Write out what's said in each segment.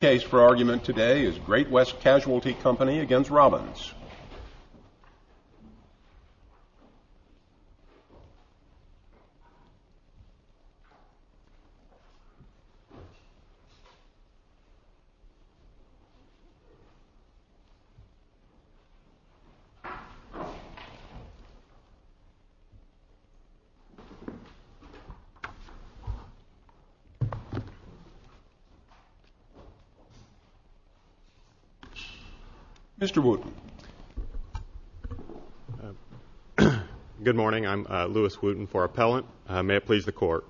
The case for argument today is Great West Casualty Company v. Robbins Mr. Wooten Good morning. I'm Louis Wooten for Appellant. May it please the Court.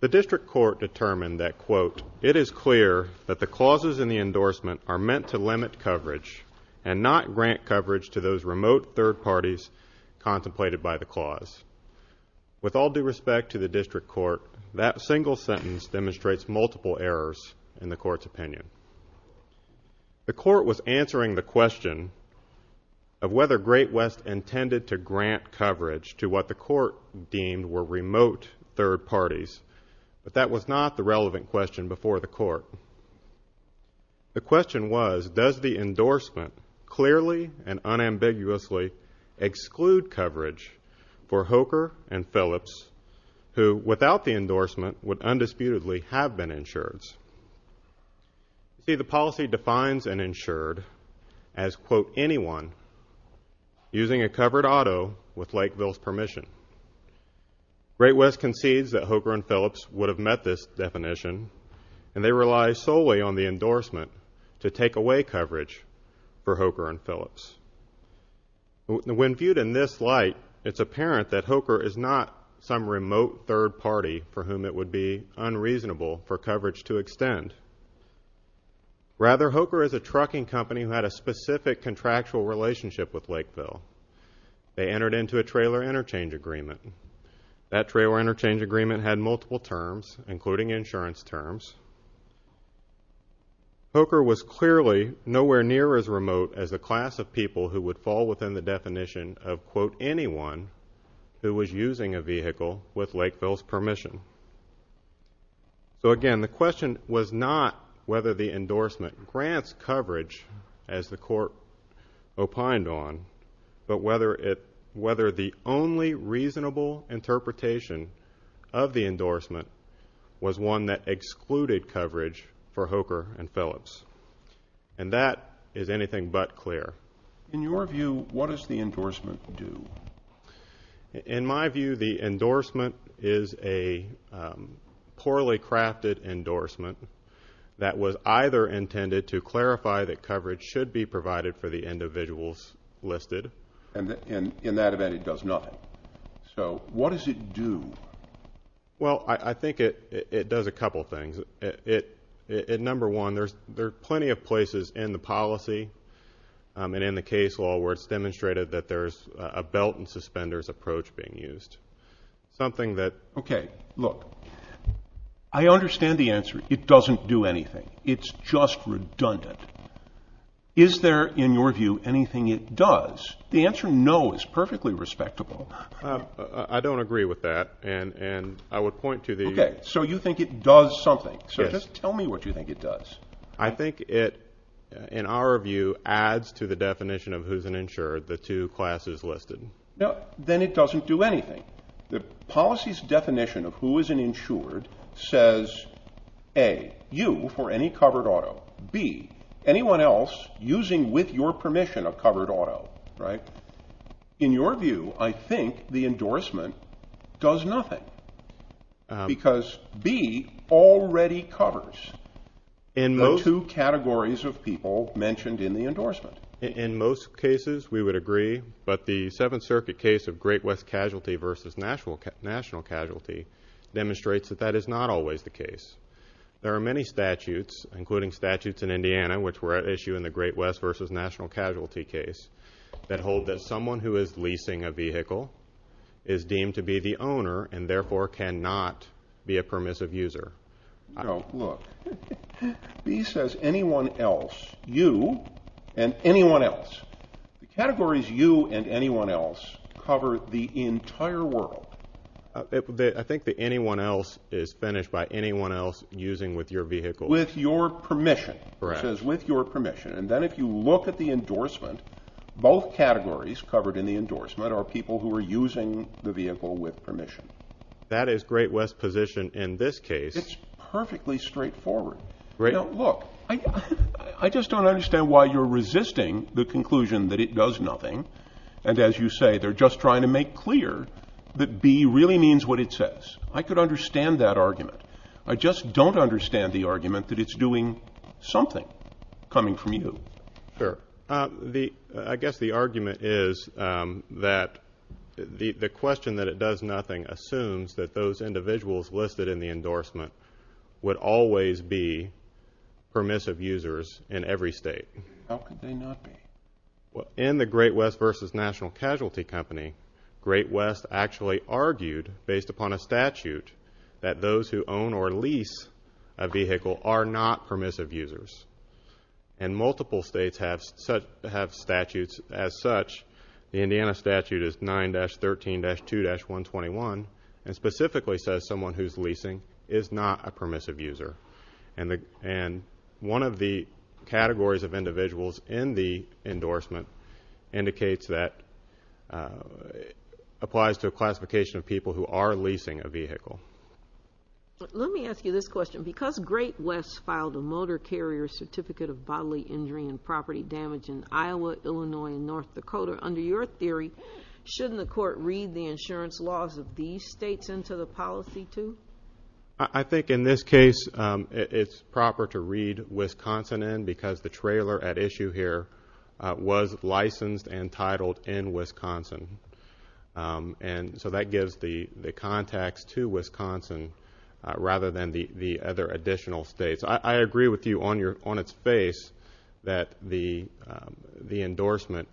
The District Court determined that, quote, ìIt is clear that the clauses in the endorsement are meant to limit coverage and not grant coverage to those remote third parties contemplated by the clause.î With all due respect to the Court's opinion, the Court was answering the question of whether Great West intended to grant coverage to what the Court deemed were remote third parties, but that was not the relevant question before the Court. The question was, does the endorsement clearly and unambiguously exclude coverage for Hoker and Phillips, who without the endorsement would undisputedly have been insureds? See, the policy defines an insured as, quote, ìanyone using a covered auto with Lakeville's permission.î Great West concedes that Hoker and Phillips would have met this definition, and they rely solely on the endorsement to take away coverage for Hoker and Phillips. When viewed in this light, it's apparent that Hoker is not some be unreasonable for coverage to extend. Rather, Hoker is a trucking company who had a specific contractual relationship with Lakeville. They entered into a trailer interchange agreement. That trailer interchange agreement had multiple terms, including insurance terms. Hoker was clearly nowhere near as remote as the class of people who would fall within the definition of, quote, ìanyone who was using a vehicle with Lakeville's permission.î So again, the question was not whether the endorsement grants coverage, as the Court opined on, but whether the only reasonable interpretation of the endorsement was one that excluded coverage for Hoker and Phillips. And that is anything but clear. In your view, what does the endorsement do? In my view, the endorsement is a poorly crafted endorsement that was either intended to clarify that coverage should be provided for the individuals listed. And in that event, it does nothing. So what does it do? Well, I think it does a couple of things. It does a couple of things. Number one, there are plenty of places in the policy and in the case law where it's demonstrated that there's a belt and suspenders approach being used. Something that... Okay, look. I understand the answer. It doesn't do anything. It's just redundant. Is there, in your view, anything it does? The answer ìnoî is perfectly respectable. I don't agree with that. And I would point to the... Okay, so you think it does something. Yes. So just tell me what you think it does. I think it, in our view, adds to the definition of who's an insured, the two classes listed. Then it doesn't do anything. The policy's definition of who is an insured says, A, you for any covered auto. B, anyone else using with your permission a covered auto, right? In your view, I think the endorsement does nothing because B already covers the two categories of people mentioned in the endorsement. In most cases, we would agree, but the Seventh Circuit case of Great West casualty versus national casualty demonstrates that that is not always the case. There are many statutes, including statutes in Indiana which were at issue in the Great West versus national casualty case, that hold that someone who is leasing a vehicle is deemed to be the owner and therefore cannot be a permissive user. No, look. B says anyone else. You and anyone else. The categories ìyouî and ìanyone elseî cover the entire world. I think the ìanyone elseî is finished by anyone else using with your vehicle. With your permission. Correct. It says with your endorsement, both categories covered in the endorsement are people who are using the vehicle with permission. That is Great Westís position in this case. Itís perfectly straightforward. I just donít understand why youíre resisting the conclusion that it does nothing and as you say, theyíre just trying to make clear that B really means what it says. I could understand that argument. I just donít understand the argument that itís doing something coming from you. I guess the argument is that the question that it does nothing assumes that those individuals listed in the endorsement would always be permissive users in every state. How could they not be? In the Great West versus national casualty company, Great West actually argued, based upon a statute, that those who own or lease a vehicle are not permissive users. And multiple states have statutes as such. The Indiana statute is 9-13-2-121 and specifically says someone whoís leasing is not a permissive user. And one of the categories of individuals in the endorsement indicates that it applies to a classification of people who are leasing a vehicle. Let me ask you this question. Because the Great West filed a motor carrier certificate of bodily injury and property damage in Iowa, Illinois and North Dakota, under your theory, shouldnít the court read the insurance laws of these states into the policy too? I think in this case, itís proper to read Wisconsin in because the trailer at issue here was licensed and titled in Wisconsin. And so that gives the contacts to Wisconsin rather than the other additional states. I agree with you on its face that the endorsement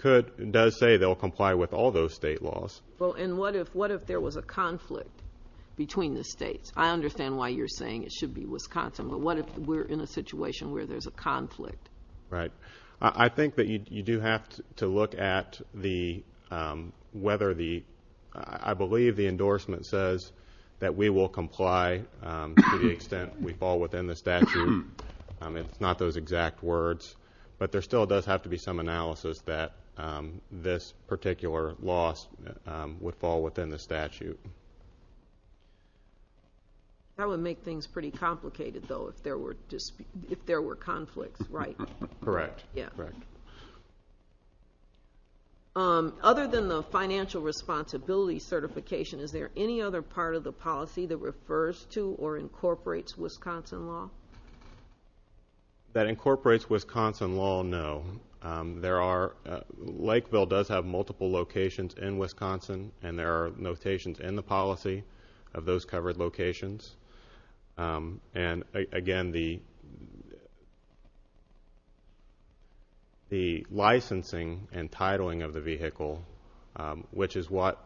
does say theyíll comply with all those state laws. Well, and what if there was a conflict between the states? I understand why youíre saying it should be Wisconsin. But what if weíre in a situation where thereís a conflict? Right. I think that you do have to look at the, whether the, I believe the endorsement says that we will comply to the extent we fall within the statute. Itís not those exact words. But there still does have to be some analysis that this particular loss would fall within the statute. That would make things pretty complicated though if there were conflicts, right? Correct, correct. Other than the financial responsibility certification, is there any other part of the policy that refers to or incorporates Wisconsin law? That incorporates Wisconsin law, no. There are, Lakeville does have multiple locations in Wisconsin and there are notations in the policy of those covered locations. And again, the licensing and titling of the vehicle, which is what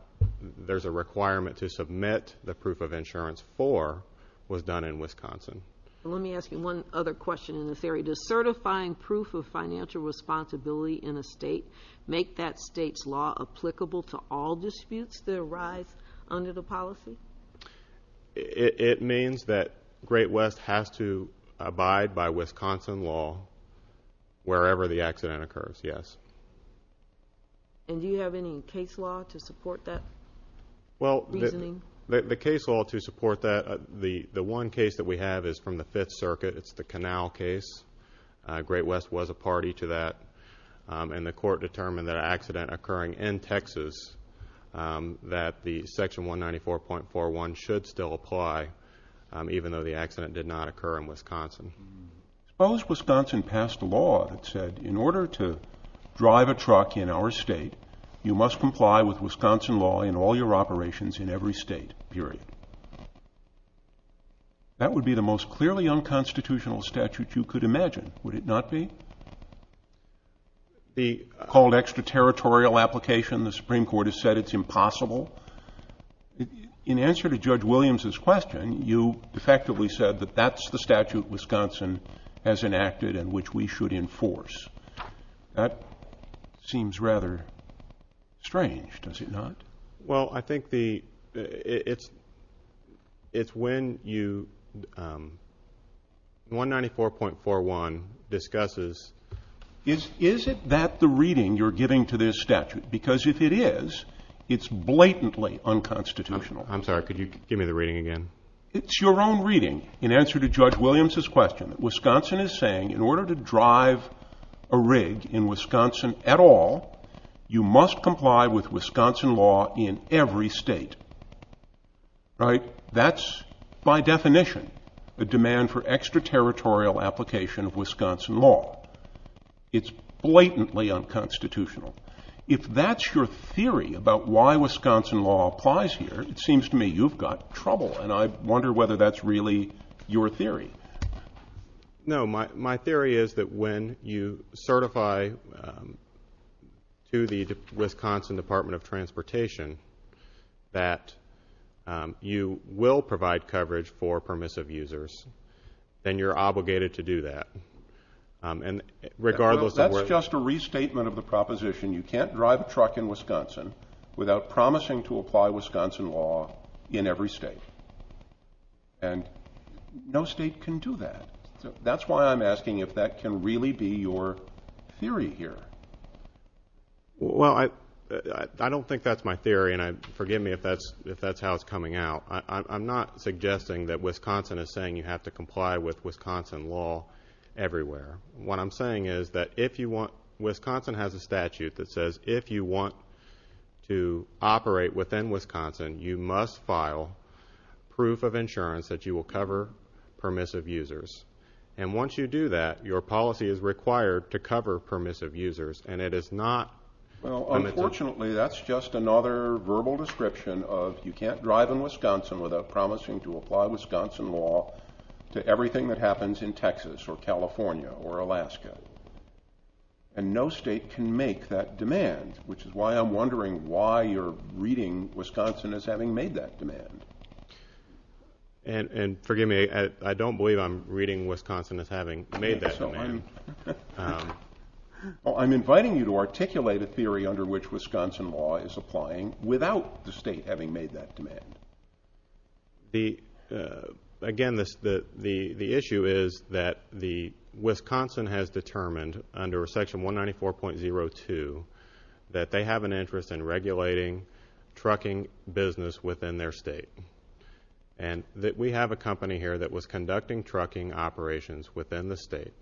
thereís a requirement to submit the proof of insurance for, was done in Wisconsin. Let me ask you one other question in this area. Does certifying proof of financial responsibility in a state make that stateís law applicable to all disputes that arise under the policy? It means that Great West has to abide by Wisconsin law wherever the accident occurs, yes. And do you have any case law to support that reasoning? Well, the case law to support that, the one case that we have is from the Fifth Circuit. Itís the Canal case. Great West was a party to that and the court determined that an accident occurring in Texas, that the section 194.41 should still apply even though the accident did not occur in Wisconsin. Suppose Wisconsin passed a law that said, ìIn order to drive a truck in our state, you must comply with Wisconsin law in all your operations in every state, period.î That would be the most clearly unconstitutional statute you could imagine, would it not be? It would be. Called extra-territorial application, the Supreme Court has said itís impossible. In answer to Judge Williamsís question, you effectively said that thatís the statute Wisconsin has enacted and which we should enforce. That seems rather strange, does it not? Well, I think the, itís when you, 194.41 discusses. Is it that the reading youíre giving to this statute? Because if it is, itís blatantly unconstitutional. Iím sorry, could you give me the reading again? Itís your own reading. In answer to Judge Williamsís question, Wisconsin is saying, ìIn order to drive a rig in Wisconsin at all, you must comply with Wisconsin law in every state.î Right? Thatís by definition a demand for extra-territorial application of Wisconsin law. Itís blatantly unconstitutional. If thatís your theory about why Wisconsin law applies here, it seems to me youíve got trouble, and I wonder whether thatís really your theory. No, my theory is that when you certify to the Wisconsin Department of Transportation that you will provide coverage for permissive users, then youíre obligated to do that. And regardless of whereÖ Thatís just a restatement of the proposition. You canít drive a truck in Wisconsin without promising to apply Wisconsin law in every state. And no state can do that. Thatís why Iím asking if that can really be your theory here. Well, I donít think thatís my theory, and forgive me if thatís how itís coming out. Iím not suggesting that Wisconsin is saying you have to comply with Wisconsin law everywhere. What Iím saying is that if you wantÖ Wisconsin has a statute that says if you want to operate within Wisconsin, you must file proof of insurance that you will cover permissive users. And once you do that, your policy is required to cover permissive users, and it is notÖ Well, unfortunately, thatís just another verbal description of you canít drive in Wisconsin without promising to apply Wisconsin law to everything that happens in Texas or California or Alaska. And no state can make that demand, which is why Iím wondering why youíre reading Wisconsin as having made that demand. And forgive me, I donít believe Iím reading Wisconsin as having made that demand. Well, Iím inviting you to articulate a theory under which Wisconsin law is applying without the state having made that demand. Again, the issue is that Wisconsin has determined under Section 194.02 that they have an interest in regulating trucking business within their state. And we have a company here that was conducting trucking operations within the state,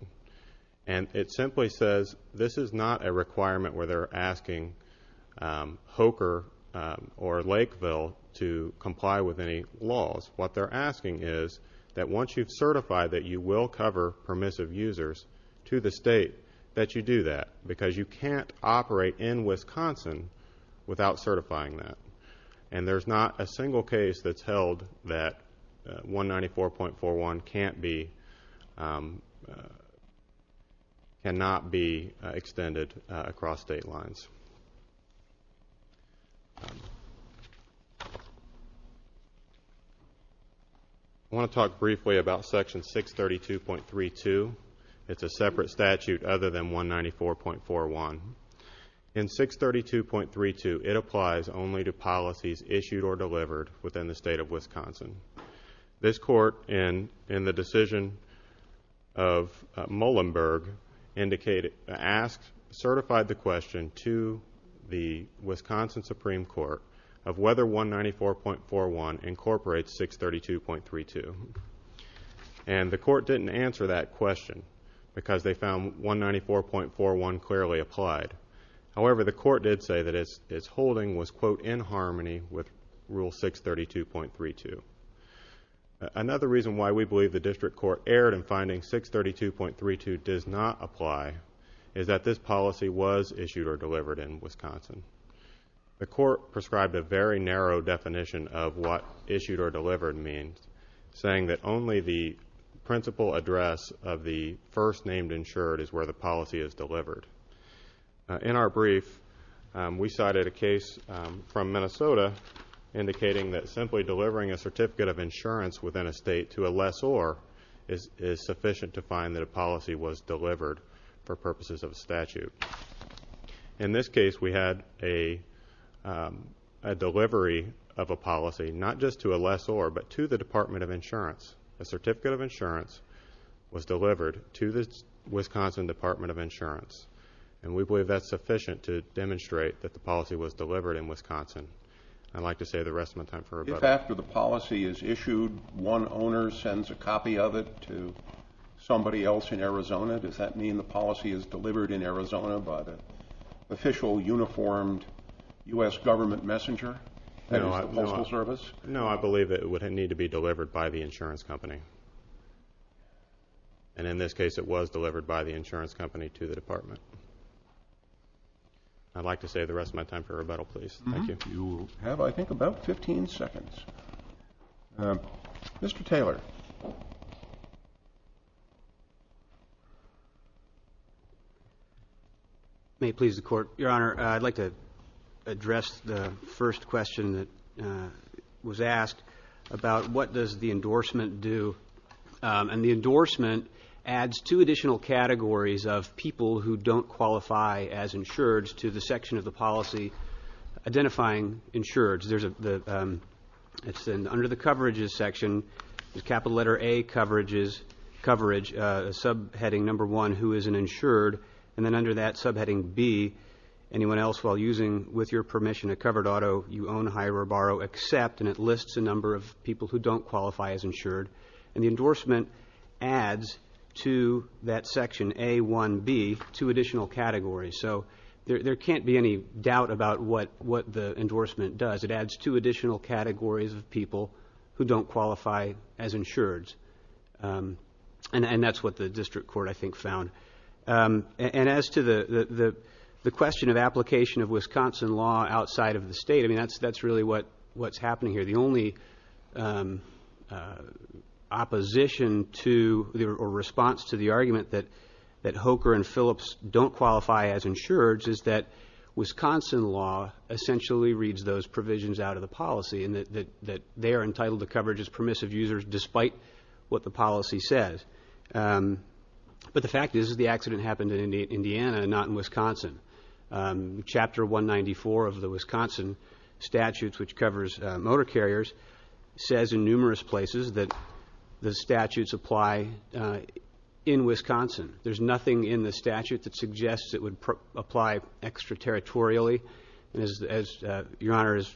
and it simply says this is not a requirement where theyíre asking HOKR or Lakeville to comply with any laws. What theyíre asking is that once youíve certified that you will cover permissive users to the state, that you do that, because you canít operate in Wisconsin without certifying that. And thereís not a single case thatís held that 194.41 canít beÖcannot be extended across state lines. I want to talk briefly about Section 632.32. Itís a separate statute other than 194.41. In 632.32, it applies only to policies issued or delivered within the state of Wisconsin. This court, in the decision of Muhlenberg, indicatedÖasked that certified the question to the Wisconsin Supreme Court of whether 194.41 incorporates 632.32. And the court didnít answer that question because they found 194.41 clearly applied. However, the court did say that its holding was ìin harmonyî with Rule 632.32. Another reason why we believe the district court erred in finding 632.32 does not apply is that this policy was issued or delivered in Wisconsin. The court prescribed a very narrow definition of what ìissued or deliveredî means, saying that only the principal address of the first named insured is where the policy is delivered. In our brief, we cited a case from Minnesota indicating that simply delivering a certificate of insurance within a state to a lessor is issued. In this case, we had a delivery of a policy, not just to a lessor, but to the Department of Insurance. A certificate of insurance was delivered to the Wisconsin Department of Insurance. And we believe thatís sufficient to demonstrate that the policy was delivered in Wisconsin. Iíd like to save the rest of my time for a betterÖ If after the policy is issued, one owner sends a copy of it to somebody else in Arizona, does that mean the policy is delivered in Arizona by the official, uniformed U.S. government messenger that is the Postal Service? No, I believe that it would need to be delivered by the insurance company. And in this case, it was delivered by the insurance company to the department. Iíd like to save the rest of my time for rebuttal, please. Thank you. You have, I think, about 15 seconds. Mr. Taylor. May it please the Court. Your Honor, Iíd like to address the first question that was asked about what does the endorsement do. And the endorsement adds two additional categories of people who donít qualify as insureds to the section of the policy identifying insureds. Thereís an under the coverages section, capital letter A coverage, subheading number one, who is an insured, and then under that subheading B, anyone else while using, with your permission, a covered auto, you own, hire, or borrow, accept, and it lists a number of people who donít qualify as insured. And the endorsement adds to that section, A1B, two additional categories. So there canít be any doubt about what the endorsement does. It adds two additional categories of people who donít qualify as insureds. And thatís what the district court, I think, found. And as to the question of application of Wisconsin law outside of the state, I mean, thatís really whatís happening here. The only opposition to, or response to the argument that Hoeker and Phillips donít qualify as insureds is that Wisconsin law essentially reads those provisions out of the policy, and that they are entitled to But the fact is, the accident happened in Indiana, not in Wisconsin. Chapter 194 of the Wisconsin statutes, which covers motor carriers, says in numerous places that the statutes apply in Wisconsin. Thereís nothing in the statute that suggests it would apply extraterritorially. And as Your Honor has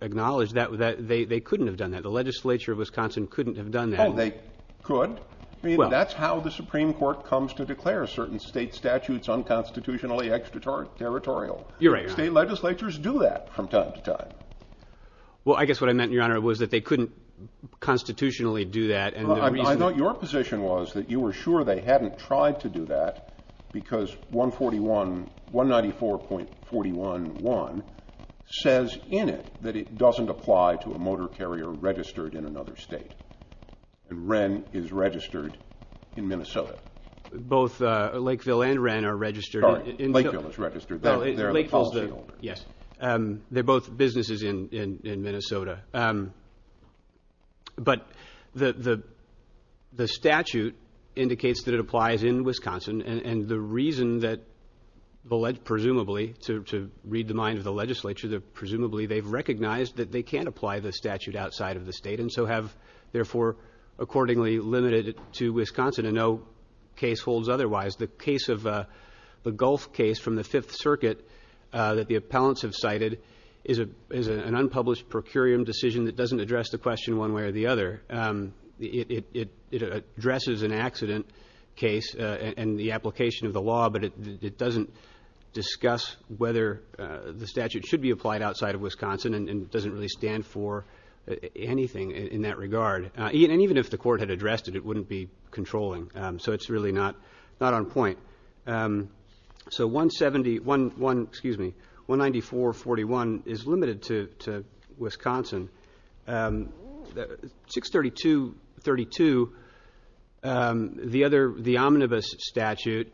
acknowledged, they couldnít have done that. The legislature of Wisconsin couldnít have done that. No, they could. I mean, thatís how the Supreme Court comes to declare certain state statutes unconstitutionally extraterritorial. State legislatures do that from time to time. Well, I guess what I meant, Your Honor, was that they couldnít constitutionally do that. I thought your position was that you were sure they hadnít tried to do that because 194.41.1 says in it that it doesnít apply to a motor carrier registered in another state. And Wren is registered in Minnesota. Both Lakeville and Wren are registered in Lakeville. Sorry, Lakeville is registered. Theyíre the policyholders. Yes. Theyíre both businesses in Minnesota. But the statute indicates that it applies in Wisconsin, and the reason that presumably, to read the mind of the legislature, that it is therefore accordingly limited to Wisconsin and no case holds otherwise. The Gulf case from the Fifth Circuit that the appellants have cited is an unpublished procurium decision that doesnít address the question one way or the other. It addresses an accident case and the application of the law, but it doesnít discuss whether the statute should be applied outside of Wisconsin and doesnít really stand for anything in that regard. And even if the court had addressed it, it wouldnít be controlling. So itís really not on point. So 171, excuse me, 194.41 is limited to Wisconsin. 632.32, the other, the omnibus statute,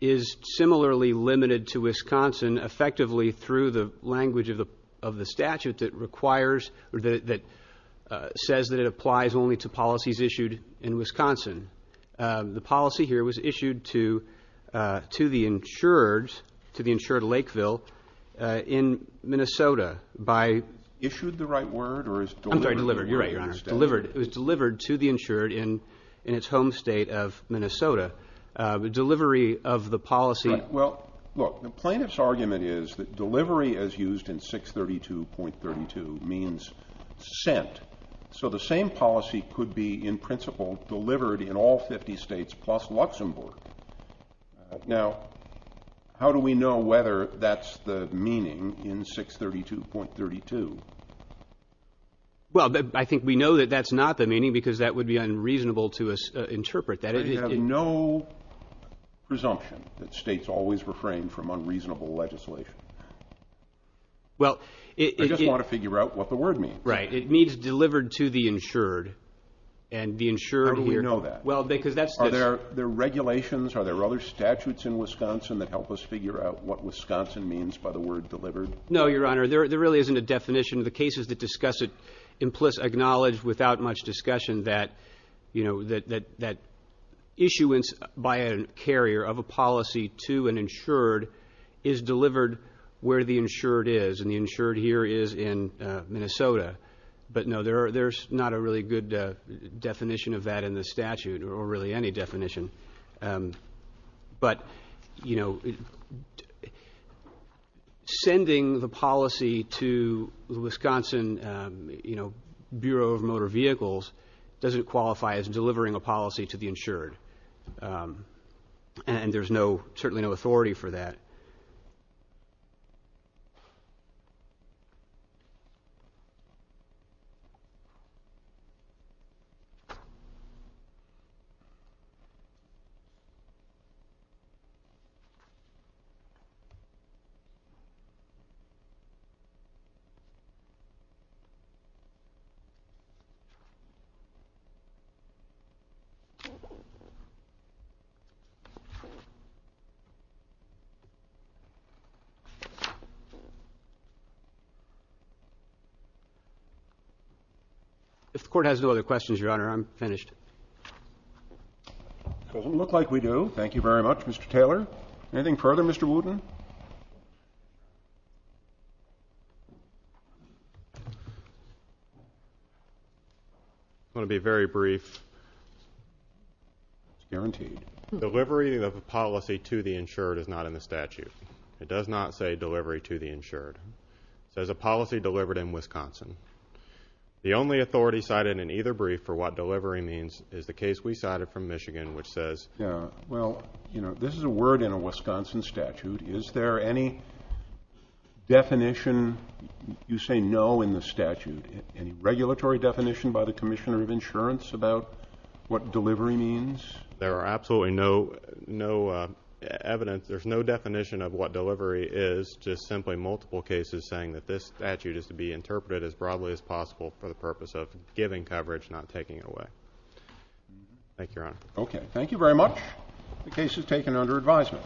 is similarly limited to Wisconsin effectively through the language of the statute that requires or that says that it applies only to policies issued in Wisconsin. The policy here was issued to the insured, to the insured Lakeville in Minnesota by Issued the right word or is delivered? Iím sorry, delivered. Youíre right, Your Honor. Delivered. It was delivered to the insured in its home state of Minnesota. The delivery of the policy Well, look, the plaintiffís argument is that delivery as used in 632.32 means sent. So the same policy could be in principle delivered in all 50 States plus Luxembourg. Now, how do we know whether thatís the meaning in 632.32? Well, I think we know that thatís not the meaning because that would be unreasonable to interpret. I have no presumption that states always refrain from unreasonable legislation. Well, it I just want to figure out what the word means. Right. It means delivered to the insured and the insured here How do we know that? Well, because thatís Are there regulations, are there other statutes in Wisconsin that help us figure out what Wisconsin means by the word delivered? No, Your Honor. There really isnít a definition. The cases that discuss it implicitly acknowledge without much discussion that issuance by a carrier of a policy to an insured is delivered where the insured is and the insured here is in Minnesota. But no, thereís not a really good definition of that in the statute or really any definition. But, you know, sending the policy to the Wisconsin, you know, Bureau of Motor Vehicles doesnít qualify as delivering a policy to the insured. And thereís no, certainly no authority for that. If the Court has no other questions, Your Honor, Iím finished. It doesnít look like we do. Thank you very much, Mr. Taylor. Anything further, Mr. Wooten? I want to be very brief. Guaranteed. Delivery of a policy to the insured is not in the statute. It does not say delivery to the insured. It says a policy delivered in Wisconsin. The only authority cited in either brief for what delivery means is the case we cited from Michigan, which saysó Yeah, well, you know, this is a word in a Wisconsin statute. Is there any definition, you say no in the statute, any regulatory definition by the Commissioner of Insurance about what delivery means? There are absolutely no evidence, thereís no definition of what delivery is, just simply multiple cases saying that this statute is to be interpreted as broadly as possible for the purpose of giving coverage, not taking it away. Thank you, Your Honor. Okay. Thank you very much. The case is taken under advisement.